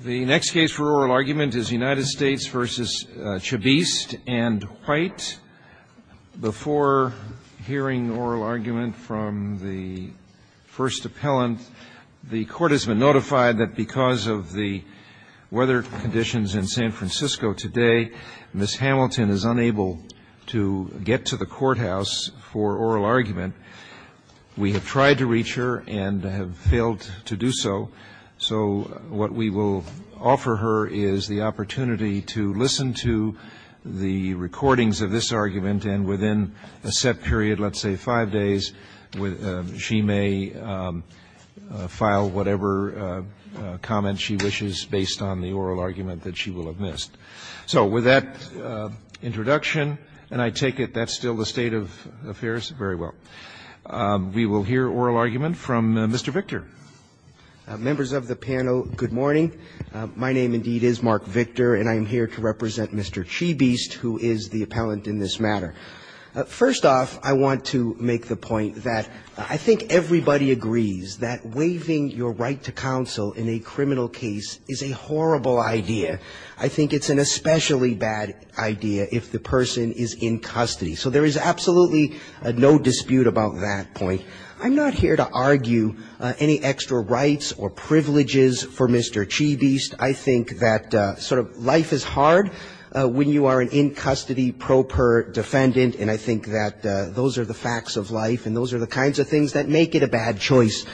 The next case for oral argument is United States v. Chibeast v. White. Before hearing oral argument from the first appellant, the Court has been notified that because of the weather conditions in San Francisco today, Ms. Hamilton is unable to get to the courthouse for oral argument. We have tried to reach her and have failed to do so. So what we will offer her is the opportunity to listen to the recordings of this argument, and within a set period, let's say five days, she may file whatever comment she wishes based on the oral argument that she will have missed. So with that introduction, and I take it that's still the state of affairs, very well. We will hear oral argument from Mr. Victor. Victor, and I am here to represent Mr. Chibeast, who is the appellant in this matter. First off, I want to make the point that I think everybody agrees that waiving your right to counsel in a criminal case is a horrible idea. I think it's an especially bad idea if the person is in custody. So there is absolutely no dispute about that point. I'm not here to argue any extra rights or privileges for Mr. Chibeast. I think that sort of life is hard when you are an in-custody pro per defendant, and I think that those are the facts of life and those are the kinds of things that make it a bad choice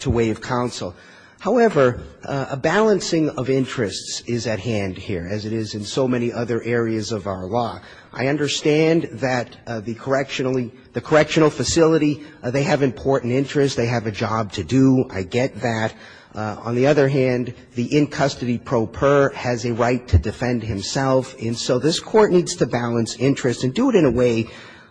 to waive counsel. However, a balancing of interests is at hand here, as it is in so many other areas of our law. I understand that the correctional facility, they have important interests. They have a job to do. I get that. On the other hand, the in-custody pro per has a right to defend himself, and so this Court needs to balance interests and do it in a way,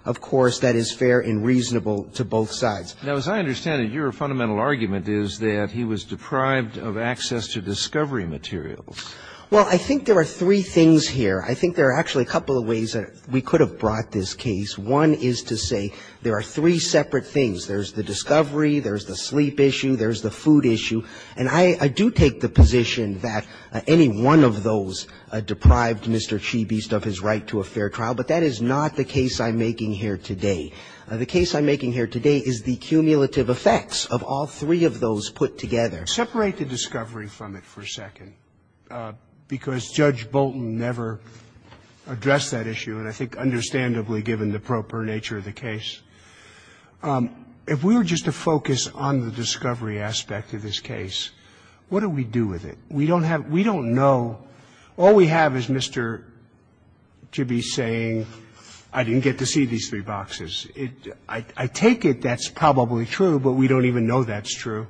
of course, that is fair and reasonable to both sides. Now, as I understand it, your fundamental argument is that he was deprived of access to discovery materials. Well, I think there are three things here. I think there are actually a couple of ways that we could have brought this case. One is to say there are three separate things. There's the discovery, there's the sleep issue, there's the food issue. And I do take the position that any one of those deprived Mr. Chibeast of his right to a fair trial, but that is not the case I'm making here today. The case I'm making here today is the cumulative effects of all three of those put together. Separate the discovery from it for a second, because Judge Bolton never addressed that issue, and I think understandably, given the pro per nature of the case. If we were just to focus on the discovery aspect of this case, what do we do with it? We don't have we don't know. All we have is Mr. Chibeast saying, I didn't get to see these three boxes. I take it that's probably true, but we don't even know that's true.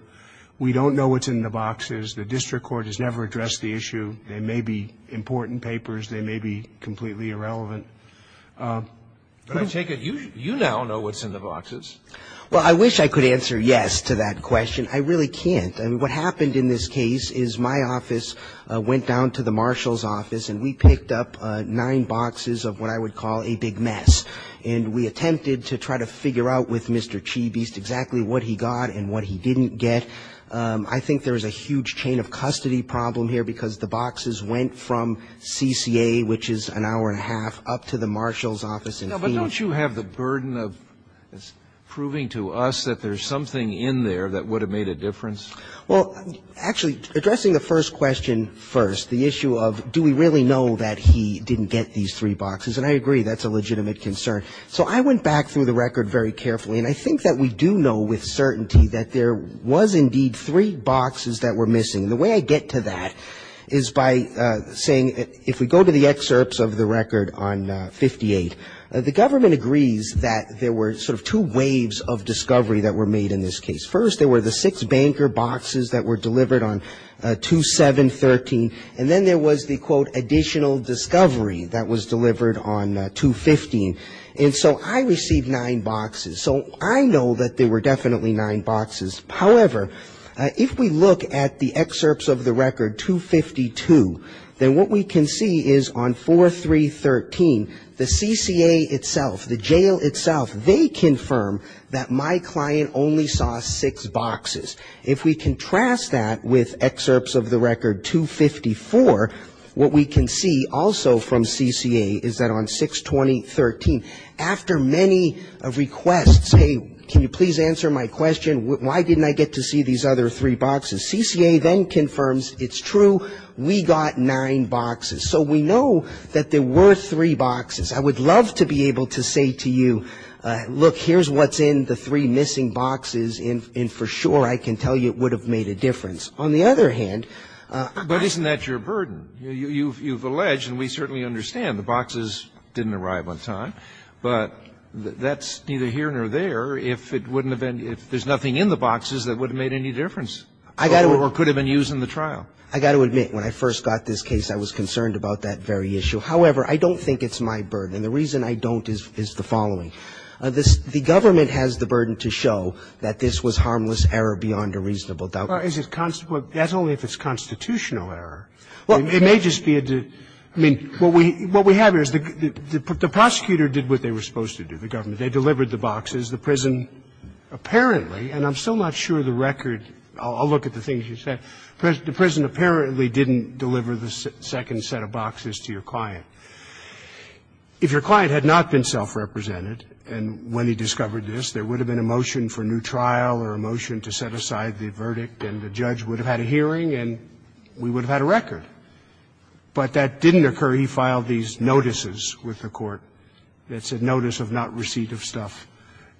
We don't know what's in the boxes. The district court has never addressed the issue. They may be important papers. They may be completely irrelevant. But I take it you now know what's in the boxes. Well, I wish I could answer yes to that question. I really can't. What happened in this case is my office went down to the marshal's office, and we picked up nine boxes of what I would call a big mess. And we attempted to try to figure out with Mr. Chibeast exactly what he got and what he didn't get. I think there is a huge chain of custody problem here, because the boxes went from CCA, which is an hour and a half, up to the marshal's office in Phoenix. But don't you have the burden of proving to us that there's something in there that would have made a difference? Well, actually, addressing the first question first, the issue of do we really know that he didn't get these three boxes, and I agree that's a legitimate concern. So I went back through the record very carefully, and I think that we do know with certainty that there was indeed three boxes that were missing. The way I get to that is by saying if we go to the excerpts of the record on 58, the government agrees that there were sort of two waves of discovery that were made in this case. First, there were the six banker boxes that were delivered on 2713, and then there was the, quote, additional discovery that was delivered on 215. And so I received nine boxes. So I know that there were definitely nine boxes. However, if we look at the excerpts of the record 252, then what we can see is on 4313, the CCA itself, the jail itself, they confirm that my client only saw six boxes. If we contrast that with excerpts of the record 254, what we can see also from CCA is that on 620.13, after many requests, hey, can you please answer my question? Why didn't I get to see these other three boxes? CCA then confirms it's true. We got nine boxes. So we know that there were three boxes. I would love to be able to say to you, look, here's what's in the three missing boxes, and for sure I can tell you it would have made a difference. On the other hand, I can't. But isn't that your burden? You've alleged, and we certainly understand, the boxes didn't arrive on time, but that's neither here nor there if it wouldn't have been – if there's nothing in the boxes that would have made any difference or could have been used in the trial. I've got to admit, when I first got this case, I was concerned about that very issue. However, I don't think it's my burden. And the reason I don't is the following. The government has the burden to show that this was harmless error beyond a reasonable doubt. Well, that's only if it's constitutional error. Well, it may just be a – I mean, what we have here is the prosecutor did what they were supposed to do, the government. They delivered the boxes. The prison apparently, and I'm still not sure the record – I'll look at the things you said – the prison apparently didn't deliver the second set of boxes to your client. If your client had not been self-represented and when he discovered this, there would have been a motion for new trial or a motion to set aside the verdict, and the judge would have had a hearing, and we would have had a record. But that didn't occur. He filed these notices with the court that said notice of not receipt of stuff.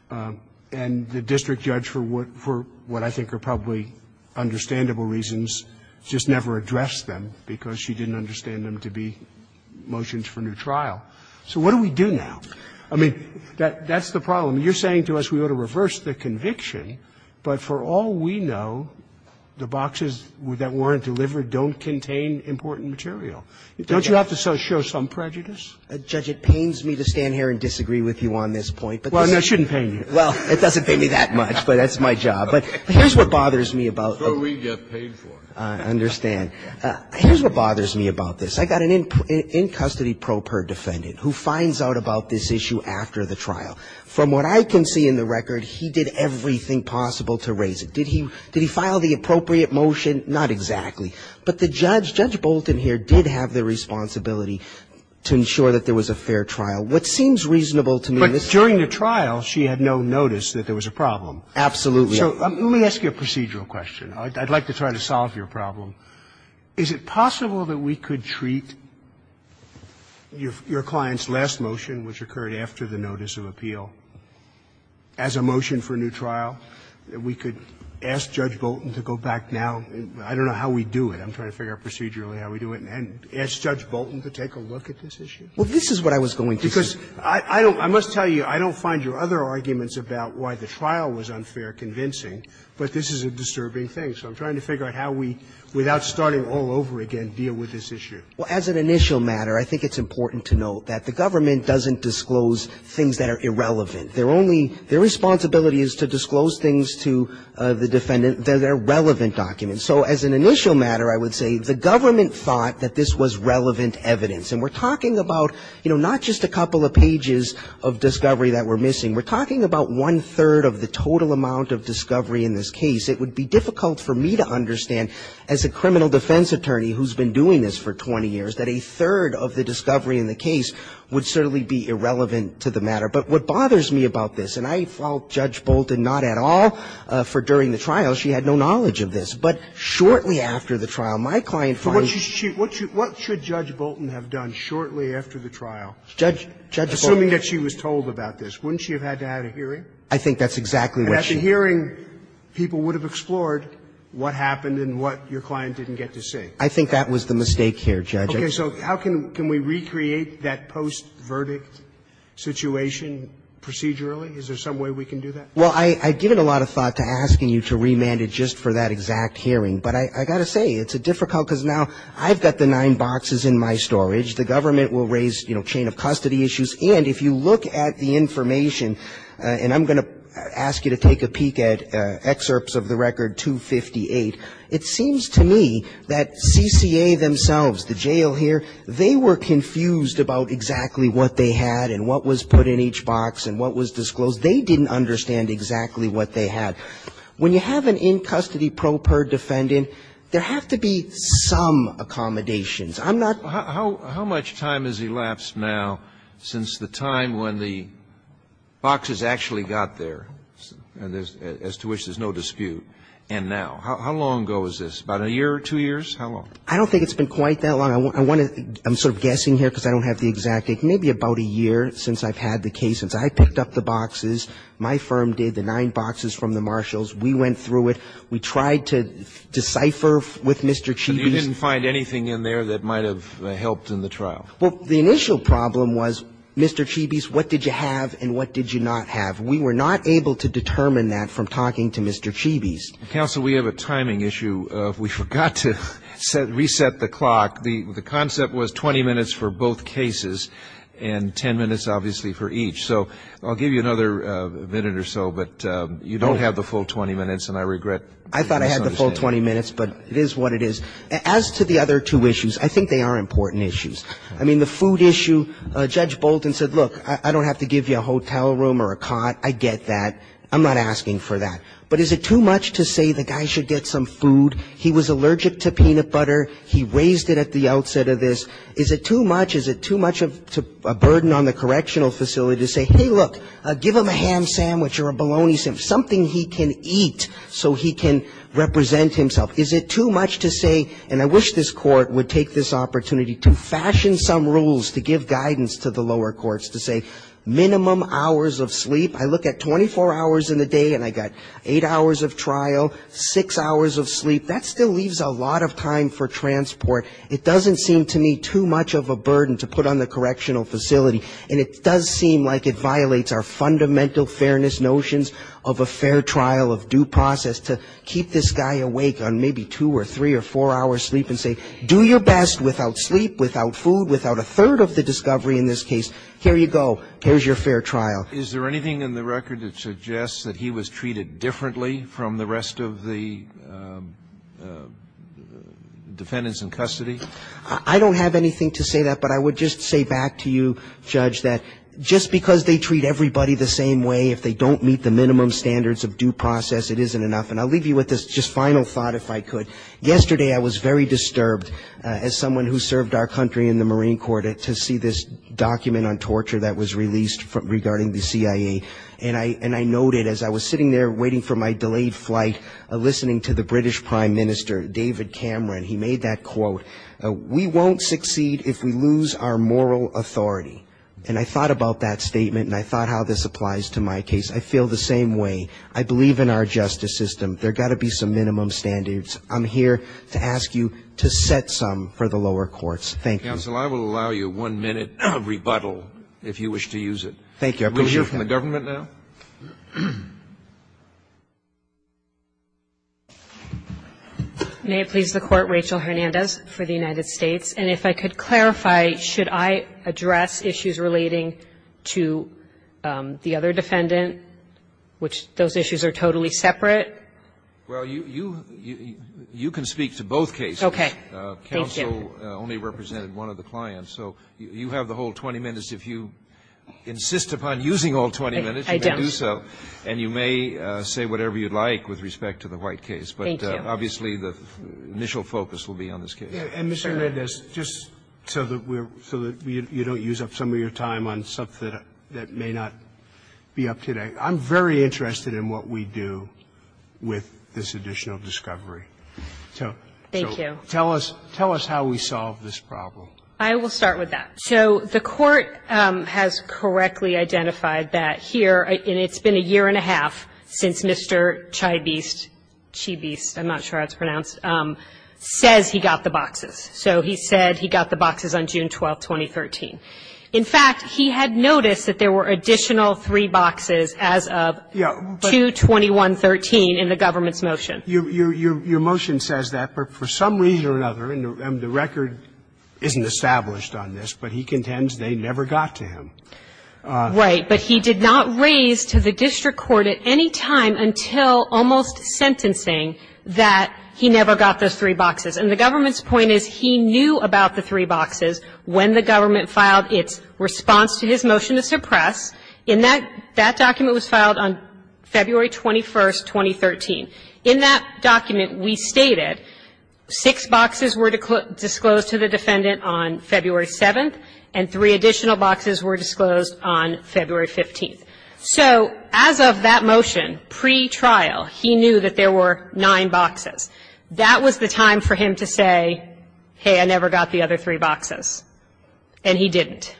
And the district judge, for what I think are probably understandable reasons, just never addressed them because she didn't understand them to be motions for new trial. So what do we do now? I mean, that's the problem. You're saying to us we ought to reverse the conviction, but for all we know, the boxes that weren't delivered don't contain important material. Don't you have to show some prejudice? Judge, it pains me to stand here and disagree with you on this point. Well, no, it shouldn't pain you. Well, it doesn't pain me that much, but that's my job. But here's what bothers me about – So we get paid for it. I understand. Here's what bothers me about this. I got an in-custody pro per defendant who finds out about this issue after the trial. From what I can see in the record, he did everything possible to raise it. Did he file the appropriate motion? Not exactly. But the judge, Judge Bolton here, did have the responsibility to ensure that there was a fair trial, which seems reasonable to me. But during the trial, she had no notice that there was a problem. Absolutely. So let me ask you a procedural question. I'd like to try to solve your problem. Is it possible that we could treat your client's last motion, which occurred after the notice of appeal, as a motion for a new trial, that we could ask Judge Bolton to go back now? I don't know how we do it. I'm trying to figure out procedurally how we do it. And ask Judge Bolton to take a look at this issue? Well, this is what I was going to say. Because I don't – I must tell you, I don't find your other arguments about why the trial was unfair convincing, but this is a disturbing thing. So I'm trying to figure out how we, without starting all over again, deal with this issue. Well, as an initial matter, I think it's important to note that the government doesn't disclose things that are irrelevant. They're only – their responsibility is to disclose things to the defendant that are relevant documents. So as an initial matter, I would say the government thought that this was relevant evidence. And we're talking about, you know, not just a couple of pages of discovery that we're missing. We're talking about one-third of the total amount of discovery in this case. It would be difficult for me to understand, as a criminal defense attorney who's been doing this for 20 years, that a third of the discovery in the case would certainly be irrelevant to the matter. But what bothers me about this – and I fault Judge Bolton not at all for during the trial. She had no knowledge of this. But shortly after the trial, my client finds – But what should she – what should Judge Bolton have done shortly after the trial? Judge – Judge Bolton – Assuming that she was told about this, wouldn't she have had to have a hearing? I think that's exactly what she – And at the hearing, people would have explored what happened and what your client didn't get to see. I think that was the mistake here, Judge. Okay. So how can we recreate that post-verdict situation procedurally? Is there some way we can do that? Well, I've given a lot of thought to asking you to remand it just for that exact hearing. But I've got to say, it's difficult because now I've got the nine boxes in my storage. The government will raise, you know, chain of custody issues. And if you look at the information – and I'm going to ask you to take a peek at excerpts of the record 258 – it seems to me that CCA themselves, the jail here, they were confused about exactly what they had and what was put in each box and what was disclosed. They didn't understand exactly what they had. When you have an in-custody pro per defendant, there have to be some accommodations. I'm not – How much time has elapsed now since the time when the boxes actually got there, as to which there's no dispute, and now? How long ago is this? About a year or two years? How long? I don't think it's been quite that long. I want to – I'm sort of guessing here because I don't have the exact – maybe about a year since I've had the case. Since I picked up the boxes, my firm did, the nine boxes from the Marshalls. We went through it. We tried to decipher with Mr. Chibis. But you didn't find anything in there that might have helped in the trial? Well, the initial problem was, Mr. Chibis, what did you have and what did you not have? We were not able to determine that from talking to Mr. Chibis. Counsel, we have a timing issue. We forgot to reset the clock. The concept was 20 minutes for both cases, and 10 minutes, obviously, for each. So I'll give you another minute or so, but you don't have the full 20 minutes, and I regret – I thought I had the full 20 minutes, but it is what it is. As to the other two issues, I think they are important issues. I mean, the food issue, Judge Bolton said, look, I don't have to give you a hotel room or a cot. I get that. I'm not asking for that. But is it too much to say the guy should get some food? He was allergic to peanut butter. He raised it at the outset of this. Is it too much? Is it too much of a burden on the correctional facility to say, hey, look, give him a ham sandwich or a bologna sandwich, something he can eat so he can represent himself? Is it too much to say – and I wish this Court would take this opportunity to fashion some rules to give guidance to the lower courts, to say minimum hours of sleep. I look at 24 hours in the day, and I got eight hours of trial, six hours of sleep. That still leaves a lot of time for transport. It doesn't seem to me too much of a burden to put on the correctional facility. And it does seem like it violates our fundamental fairness notions of a fair trial, of due process, to keep this guy awake on maybe two or three or four hours sleep and say, do your best without sleep, without food, without a third of the discovery in this case. Here you go. Here's your fair trial. Is there anything in the record that suggests that he was treated differently from the rest of the defendants in custody? I don't have anything to say that, but I would just say back to you, Judge, that just because they treat everybody the same way, if they don't meet the minimum standards of due process, it isn't enough. And I'll leave you with this just final thought, if I could. Yesterday, I was very disturbed, as someone who served our country in the Marine Corps, to see this document on torture that was released regarding the CIA. And I noted, as I was sitting there waiting for my delayed flight, listening to the British Prime Minister, David Cameron, he made that quote, we won't succeed if we lose our moral authority. And I thought about that statement, and I thought how this applies to my case. I feel the same way. I believe in our justice system. There got to be some minimum standards. I'm here to ask you to set some for the lower courts. Thank you. Counsel, I will allow you one-minute rebuttal, if you wish to use it. Thank you. I appreciate that. Will you hear from the government now? May it please the Court, Rachel Hernandez for the United States. And if I could clarify, should I address issues relating to the other defendant, which those issues are totally separate? Okay. Thank you. Rachel only represented one of the clients, so you have the whole 20 minutes. If you insist upon using all 20 minutes, you may do so. And you may say whatever you'd like with respect to the White case. But obviously, the initial focus will be on this case. And Mr. Hernandez, just so that you don't use up some of your time on something that may not be up to date, I'm very interested in what we do with this additional discovery. Thank you. Tell us how we solve this problem. I will start with that. So the Court has correctly identified that here, and it's been a year and a half since Mr. Chybiste, Chybiste, I'm not sure how it's pronounced, says he got the boxes. So he said he got the boxes on June 12, 2013. In fact, he had noticed that there were additional three boxes as of 2-2113 in the government's motion. Your motion says that, but for some reason or another, and the record isn't established on this, but he contends they never got to him. Right. But he did not raise to the district court at any time until almost sentencing that he never got those three boxes. And the government's point is he knew about the three boxes when the government filed its response to his motion to suppress. And that document was filed on February 21, 2013. In that document, we stated six boxes were disclosed to the defendant on February 7, and three additional boxes were disclosed on February 15. So as of that motion, pre-trial, he knew that there were nine boxes. That was the time for him to say, hey, I never got the other three boxes. And he didn't.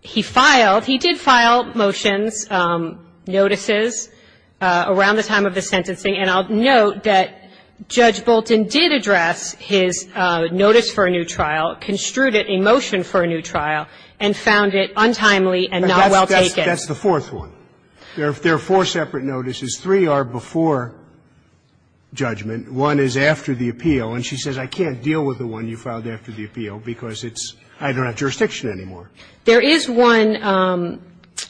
He filed, he did file motions, notices around the time of the sentencing. And I'll note that Judge Bolton did address his notice for a new trial, construed it in motion for a new trial, and found it untimely and not well taken. That's the fourth one. There are four separate notices. Three are before judgment. One is after the appeal. And she says, I can't deal with the one you filed after the appeal because it's – I don't have jurisdiction anymore. There is one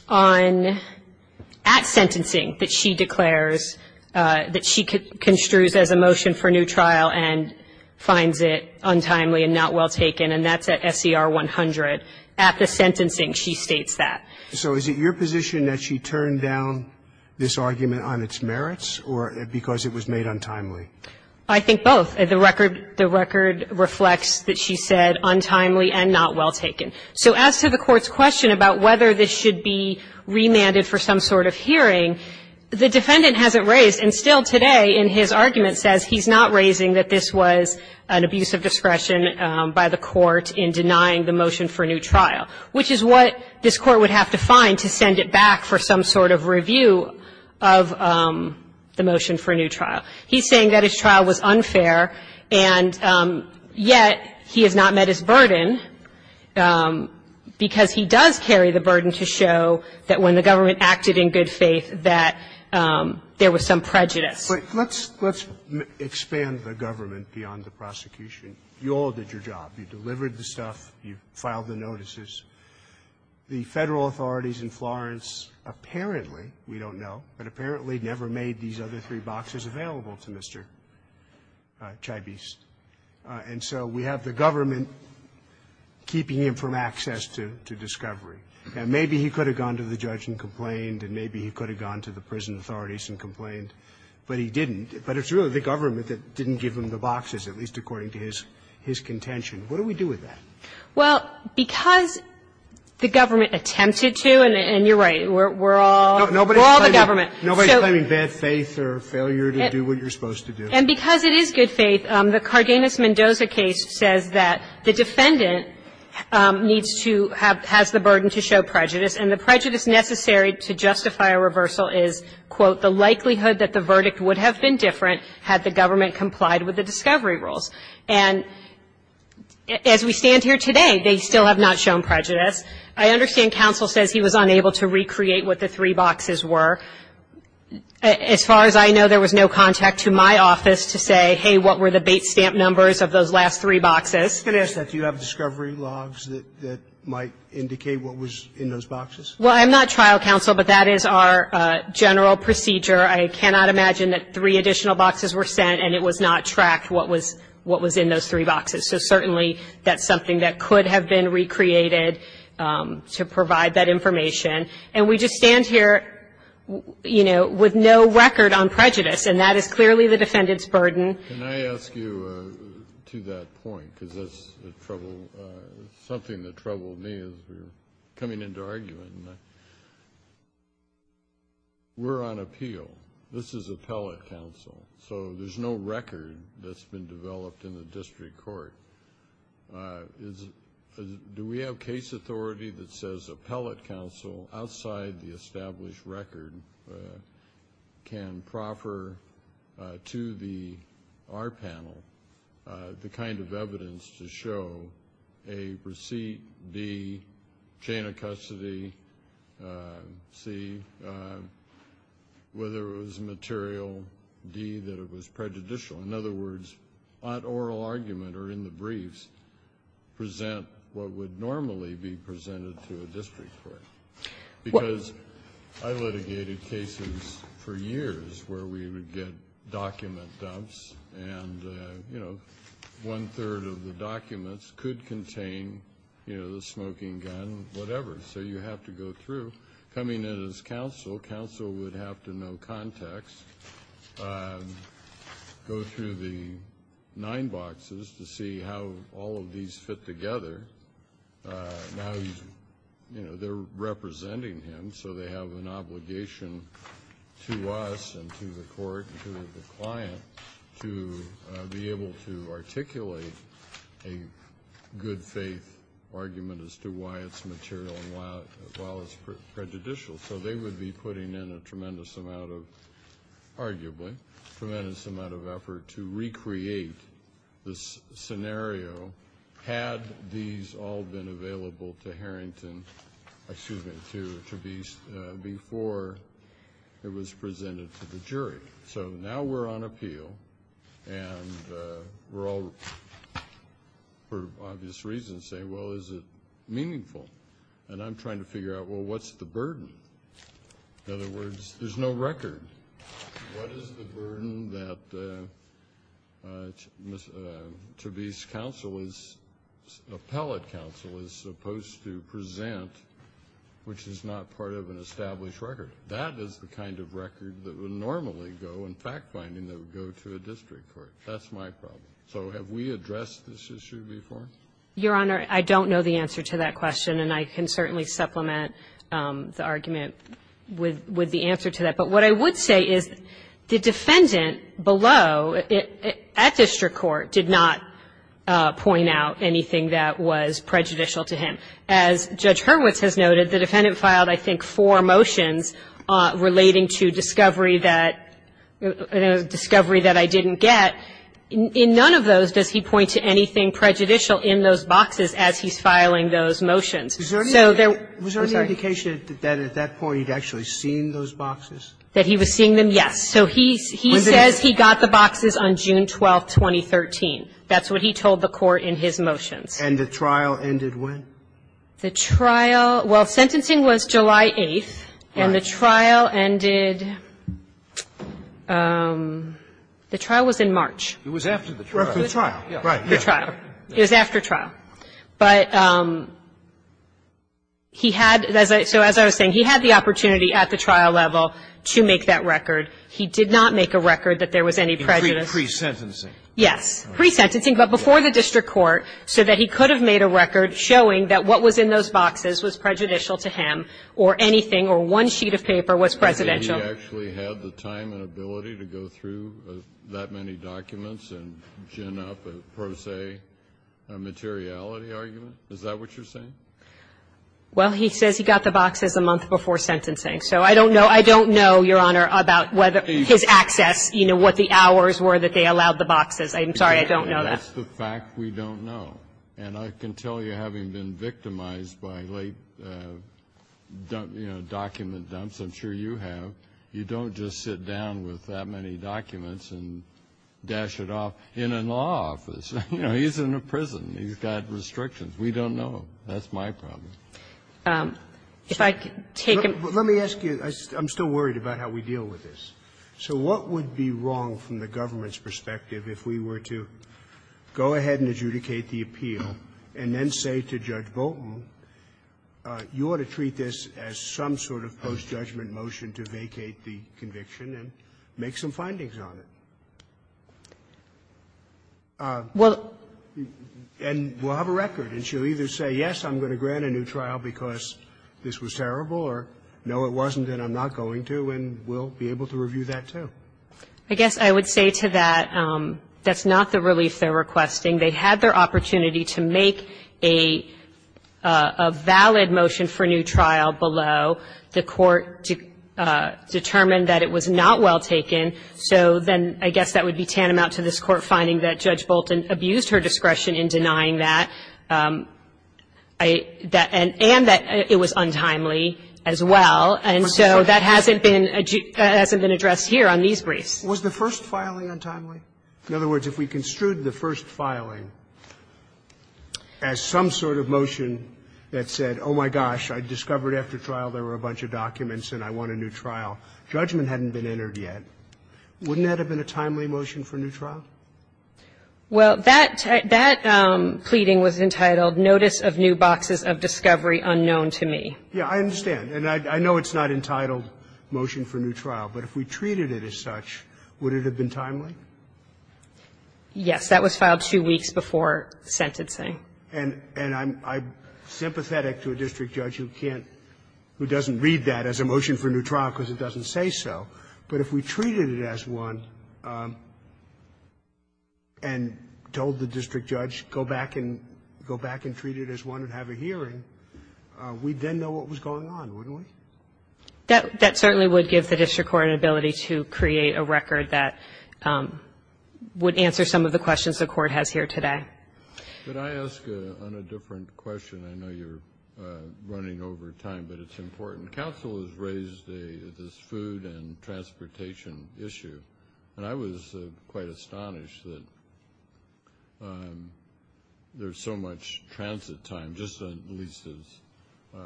on – at sentencing that she declares, that she construes as a motion for a new trial and finds it untimely and not well taken, and that's at SCR 100. At the sentencing, she states that. So is it your position that she turned down this argument on its merits or because it was made untimely? I think both. The record reflects that she said untimely and not well taken. So as to the Court's question about whether this should be remanded for some sort of hearing, the defendant hasn't raised, and still today in his argument, says he's not raising that this was an abuse of discretion by the Court in denying the motion for a new trial, which is what this Court would have to find to send it back for some sort of review of the motion for a new trial. He's saying that his trial was unfair, and yet he has not met his burden. Because he does carry the burden to show that when the government acted in good faith, that there was some prejudice. But let's – let's expand the government beyond the prosecution. You all did your job. You delivered the stuff. You filed the notices. The Federal authorities in Florence apparently – we don't know – but apparently never made these other three boxes available to Mr. Chybiste. And so we have the government keeping him from access to discovery. And maybe he could have gone to the judge and complained, and maybe he could have gone to the prison authorities and complained, but he didn't. But it's really the government that didn't give him the boxes, at least according to his contention. What do we do with that? Well, because the government attempted to, and you're right, we're all – we're all the government. Nobody's claiming bad faith or failure to do what you're supposed to do. And because it is good faith, the Cardenas-Mendoza case says that the defendant needs to have – has the burden to show prejudice, and the prejudice necessary to justify a reversal is, quote, the likelihood that the verdict would have been different had the government complied with the discovery rules. And as we stand here today, they still have not shown prejudice. I understand counsel says he was unable to recreate what the three boxes were. As far as I know, there was no contact to my office to say, hey, what were the bait stamp numbers of those last three boxes. I was going to ask that. Do you have discovery logs that might indicate what was in those boxes? Well, I'm not trial counsel, but that is our general procedure. I cannot imagine that three additional boxes were sent, and it was not tracked what was – what was in those three boxes. So certainly, that's something that could have been recreated to provide that information. And we just stand here, you know, with no record on prejudice, and that is clearly the defendant's burden. Can I ask you, to that point, because that's a trouble – something that troubled me as we were coming into argument, we're on appeal. This is appellate counsel. So there's no record that's been developed in the district court. Do we have case authority that says appellate counsel outside the established record can proffer to the – our panel the kind of evidence to show A, receipt, B, chain of custody, C, whether it was material, D, that it was prejudicial? In other words, on oral argument or in the briefs, present what would normally be presented to a district court? Because I litigated cases for years where we would get document dumps, and, you know, one-third of the documents could contain, you know, the smoking gun, whatever. So you have to go through. Coming in as counsel, counsel would have to know context, go through the nine boxes to see how all of these fit together. Now, you know, they're representing him, so they have an obligation to us and to the court and to the client to be able to articulate a good-faith argument as to why it's material and why it's prejudicial. So they would be putting in a tremendous amount of, arguably, tremendous amount of effort to recreate the scenario had these all been available to Harrington – excuse me, to Beast before it was presented to the jury. So now we're on appeal, and we're all, for obvious reasons, saying, well, is it meaningful? And I'm trying to figure out, well, what's the burden? In other words, there's no record. What is the burden that to Beast counsel is – appellate counsel is supposed to present, which is not part of an established record? That is the kind of record that would normally go in fact-finding that would go to a district court. That's my problem. So have we addressed this issue before? Your Honor, I don't know the answer to that question, and I can certainly supplement the argument with the answer to that. But what I would say is the defendant below, at district court, did not point out anything that was prejudicial to him. As Judge Hurwitz has noted, the defendant filed, I think, four motions relating to discovery that – discovery that I didn't get. In none of those does he point to anything prejudicial in those boxes as he's filing those motions. So there – Was there any indication that at that point he'd actually seen those boxes? That he was seeing them? Yes. So he says he got the boxes on June 12, 2013. That's what he told the Court in his motions. And the trial ended when? The trial – well, sentencing was July 8th. Right. And the trial ended – the trial was in March. It was after the trial. Right. The trial. It was after trial. But he had – so as I was saying, he had the opportunity at the trial level to make that record. He did not make a record that there was any prejudice. In pre-sentencing? Yes. Pre-sentencing, but before the district court, so that he could have made a record showing that what was in those boxes was prejudicial to him or anything or one sheet of paper was presidential. Did he actually have the time and ability to go through that many documents and gin up a pro se materiality argument? Is that what you're saying? Well, he says he got the boxes a month before sentencing. So I don't know. I don't know, Your Honor, about whether his access, you know, what the hours were that they allowed the boxes. I'm sorry. I don't know that. That's the fact we don't know. And I can tell you, having been victimized by late, you know, document dumps, I'm sure you have, you don't just sit down with that many documents and dash it off in a law office. You know, he's in a prison. He's got restrictions. We don't know. That's my problem. Let me ask you – I'm still worried about how we deal with this. So what would be wrong from the government's perspective if we were to go ahead and adjudicate the appeal and then say to Judge Bolton, you ought to treat this as some sort of post-judgment motion to vacate the conviction and make some findings on it? Well – And we'll have a record, and she'll either say, yes, I'm going to grant a new trial because this was terrible, or no, it wasn't and I'm not going to. And we'll be able to review that, too. I guess I would say to that that's not the relief they're requesting. They had their opportunity to make a valid motion for new trial below. The Court determined that it was not well taken. So then I guess that would be tantamount to this Court finding that Judge Bolton abused her discretion in denying that. And that it was untimely as well. And so that hasn't been addressed here on these briefs. Was the first filing untimely? In other words, if we construed the first filing as some sort of motion that said, oh, my gosh, I discovered after trial there were a bunch of documents and I want a new trial, judgment hadn't been entered yet, wouldn't that have been a timely motion for new trial? Well, that pleading was entitled, notice of new boxes of discovery unknown to me. Yeah, I understand. And I know it's not entitled motion for new trial. But if we treated it as such, would it have been timely? Yes. That was filed two weeks before sentencing. And I'm sympathetic to a district judge who can't, who doesn't read that as a motion for new trial because it doesn't say so. But if we treated it as one and told the district judge, go back and go back and treat it as one and have a hearing, we'd then know what was going on, wouldn't we? That certainly would give the district court an ability to create a record that would answer some of the questions the court has here today. Could I ask on a different question? I know you're running over time, but it's important. Council has raised this food and transportation issue. And I was quite astonished that there's so much transit time, just at least as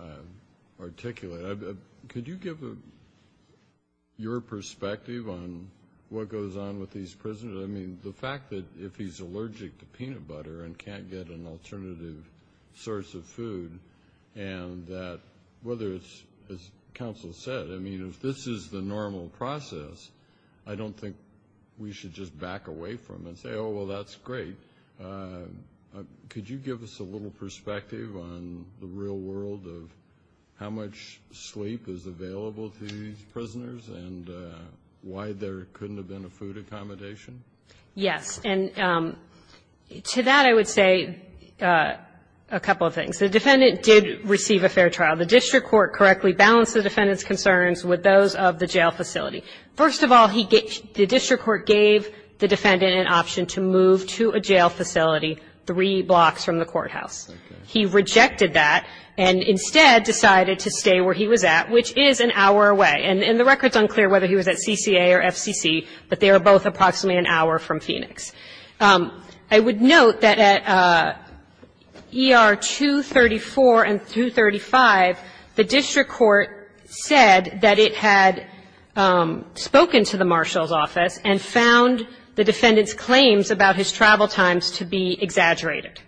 articulate. Could you give your perspective on what goes on with these prisoners? I mean, the fact that if he's allergic to peanut butter and can't get an alternative source of food and that whether it's, as Council said, I mean, if this is the normal process, I don't think we should just back away from it and say, oh, well, that's great. Could you give us a little perspective on the real world of how much sleep is available to these prisoners and why there couldn't have been a food accommodation? Yes. And to that I would say a couple of things. The defendant did receive a fair trial. The district court correctly balanced the defendant's concerns with those of the jail facility. First of all, the district court gave the defendant an option to move to a jail facility three blocks from the courthouse. He rejected that and instead decided to stay where he was at, which is an hour away. And the record's unclear whether he was at CCA or FCC, but they were both approximately an hour from Phoenix. I would note that at ER 234 and 235, the district court said that it had spoken to the marshal's office and found the defendant's claims about his travel times to be exaggerated,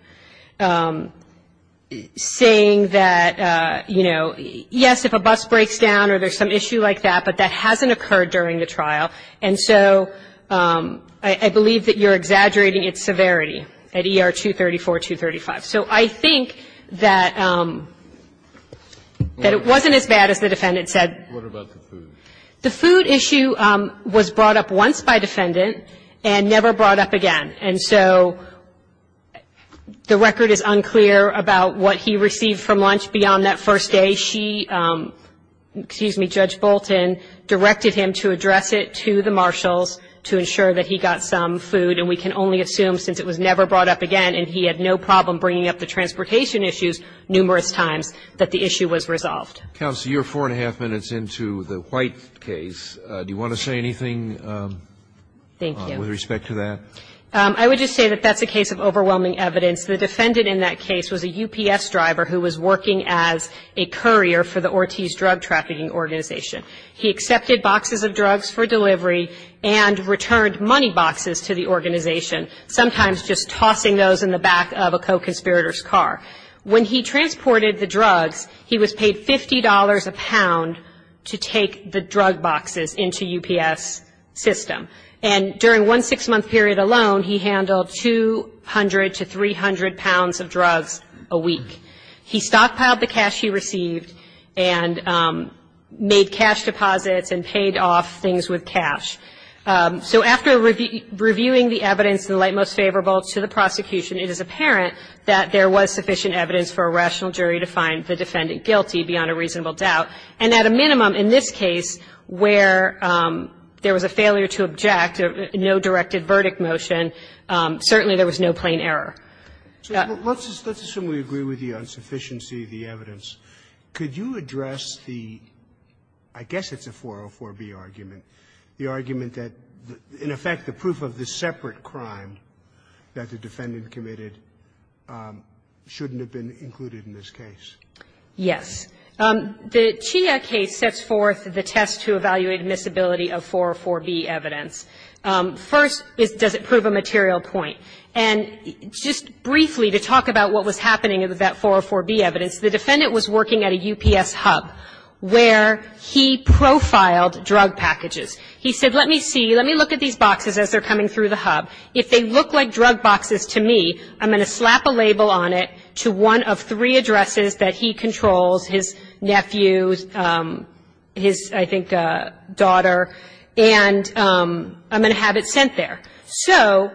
saying that, you know, yes, if a bus breaks down or there's some issue like that, but that hasn't occurred during the trial. And so I believe that you're exaggerating its severity at ER 234, 235. So I think that it wasn't as bad as the defendant said. What about the food? The food issue was brought up once by defendant and never brought up again. And so the record is unclear about what he received from lunch beyond that first day. She, excuse me, Judge Bolton, directed him to address it to the marshals to ensure that he got some food. And we can only assume, since it was never brought up again and he had no problem bringing up the transportation issues numerous times, that the issue was resolved. Counsel, you're four and a half minutes into the White case. Do you want to say anything with respect to that? I would just say that that's a case of overwhelming evidence. The defendant in that case was a UPS driver who was working as a courier for the Ortiz Drug Trafficking Organization. He accepted boxes of drugs for delivery and returned money boxes to the organization, sometimes just tossing those in the back of a co-conspirator's car. When he transported the drugs, he was paid $50 a pound to take the drug boxes into UPS system. And during one six-month period alone, he handled 200 to 300 pounds of drugs a week. He stockpiled the cash he received and made cash deposits and paid off things with cash. So after reviewing the evidence in the light most favorable to the prosecution, it is apparent that there was sufficient evidence for a rational jury to find the defendant guilty beyond a reasonable doubt. And at a minimum in this case where there was a failure to object, no directed verdict motion, certainly there was no plain error. Let's assume we agree with the insufficiency of the evidence. Could you address the, I guess it's a 404B argument, the argument that in effect the proof of the separate crime that the defendant committed shouldn't have been included in this case? Yes. The Chia case sets forth the test to evaluate admissibility of 404B evidence. First, does it prove a material point? And just briefly to talk about what was happening with that 404B evidence, the defendant was working at a UPS hub where he profiled drug packages. He said, let me see, let me look at these boxes as they're coming through the hub. If they look like drug boxes to me, I'm going to slap a label on it to one of three addresses that he controls, his nephew, his, I think, daughter, and I'm going to have it sent there. So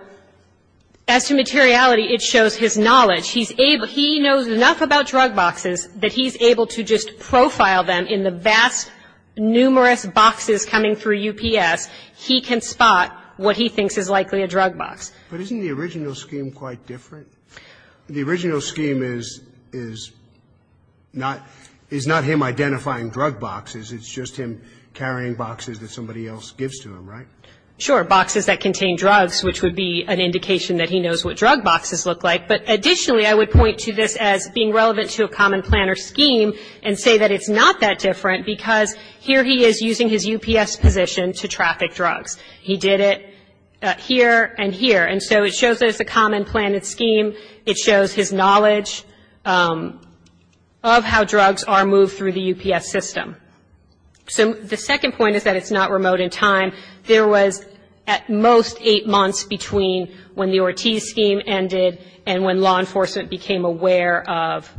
as to materiality, it shows his knowledge. He knows enough about drug boxes that he's able to just profile them in the vast, numerous boxes coming through UPS. He can spot what he thinks is likely a drug box. But isn't the original scheme quite different? The original scheme is not him identifying drug boxes. It's just him carrying boxes that somebody else gives to him, right? Sure. Boxes that contain drugs, which would be an indication that he knows what drug boxes look like. But additionally, I would point to this as being relevant to a common planner scheme and say that it's not that different, because here he is using his UPS position to traffic drugs. He did it here and here. And so it shows that it's a common plan and scheme. It shows his knowledge of how drugs are moved through the UPS system. So the second point is that it's not remote in time. There was at most eight months between when the Ortiz scheme ended and when law enforcement became aware of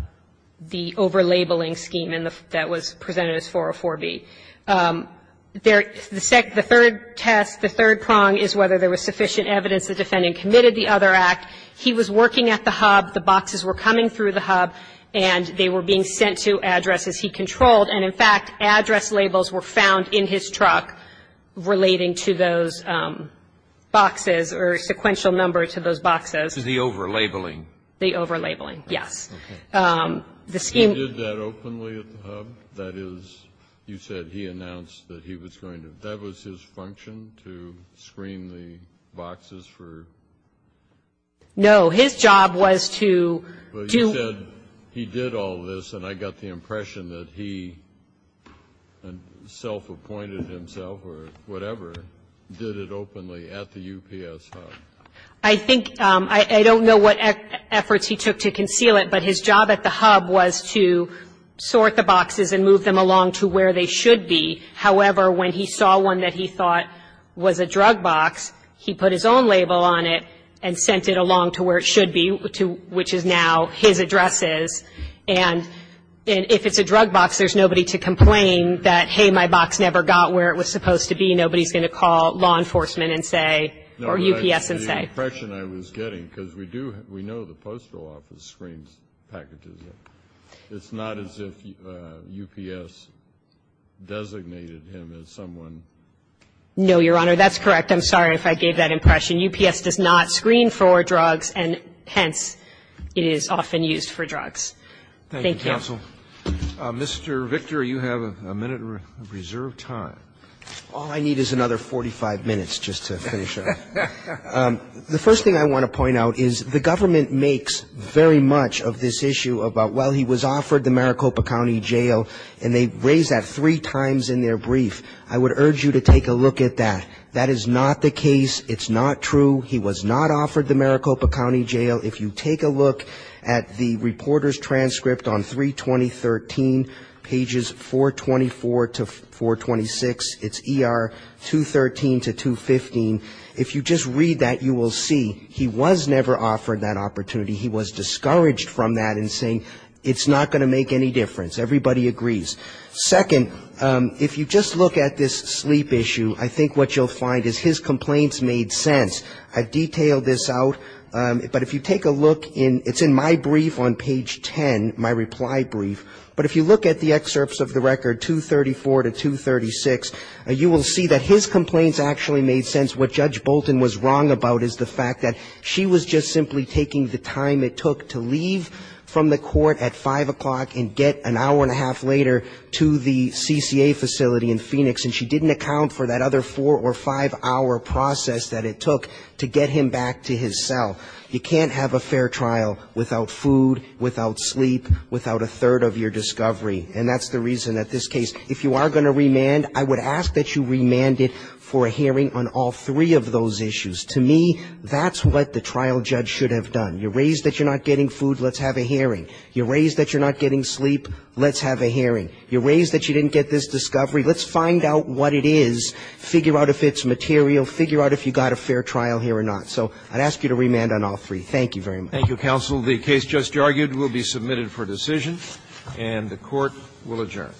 the over-labeling scheme that was presented as 404B. The third test, the third prong is whether there was sufficient evidence the defendant committed the other act. He was working at the hub. The boxes were coming through the hub, and they were being sent to addresses he controlled. And in fact, address labels were found in his truck relating to those boxes or sequential number to those boxes. To the over-labeling. Okay. He did that openly at the hub? That is, you said he announced that he was going to, that was his function to screen the boxes for? No. His job was to do. But you said he did all this, and I got the impression that he self-appointed himself or whatever, did it openly at the UPS hub. I think, I don't know what efforts he took to conceal it, but his job at the hub was to sort the boxes and move them along to where they should be. However, when he saw one that he thought was a drug box, he put his own label on it and sent it along to where it should be, which is now his addresses. And if it's a drug box, there's nobody to complain that, hey, my box never got where it was supposed to be. Nobody's going to call law enforcement and say, or UPS and say. That's the impression I was getting, because we do, we know the Postal Office screens packages. It's not as if UPS designated him as someone. No, Your Honor, that's correct. I'm sorry if I gave that impression. UPS does not screen for drugs, and hence, it is often used for drugs. Thank you. Thank you, counsel. Mr. Victor, you have a minute reserved time. All I need is another 45 minutes just to finish up. The first thing I want to point out is the government makes very much of this issue about, well, he was offered the Maricopa County Jail, and they raise that three times in their brief. I would urge you to take a look at that. That is not the case. It's not true. He was not offered the Maricopa County Jail. If you take a look at the reporter's transcript on 32013, pages 424 to 426, it's ER 213 to 215. If you just read that, you will see he was never offered that opportunity. He was discouraged from that in saying, it's not going to make any difference. Everybody agrees. Second, if you just look at this sleep issue, I think what you'll find is his complaints made sense. I've detailed this out, but if you take a look in my brief on page 10, my reply brief, but if you look at the excerpts of the record 234 to 236, you will see that his complaints actually made sense. What Judge Bolton was wrong about is the fact that she was just simply taking the time it took to leave from the court at 5 o'clock and get an hour and a half later to the CCA facility in Phoenix, and she didn't account for that other four or five-hour process that it took to get him back to his cell. You can't have a fair trial without food, without sleep, without a third of your discovery, and that's the reason that this case, if you are going to remand, I would ask that you remand it for a hearing on all three of those issues. To me, that's what the trial judge should have done. You're raised that you're not getting food, let's have a hearing. You're raised that you're not getting sleep, let's have a hearing. You're raised that you didn't get this discovery, let's find out what it is, figure out if it's material, figure out if you got a fair trial here or not. So I'd ask you to remand on all three. Thank you very much. Thank you, counsel. The case just argued will be submitted for decision, and the Court will adjourn.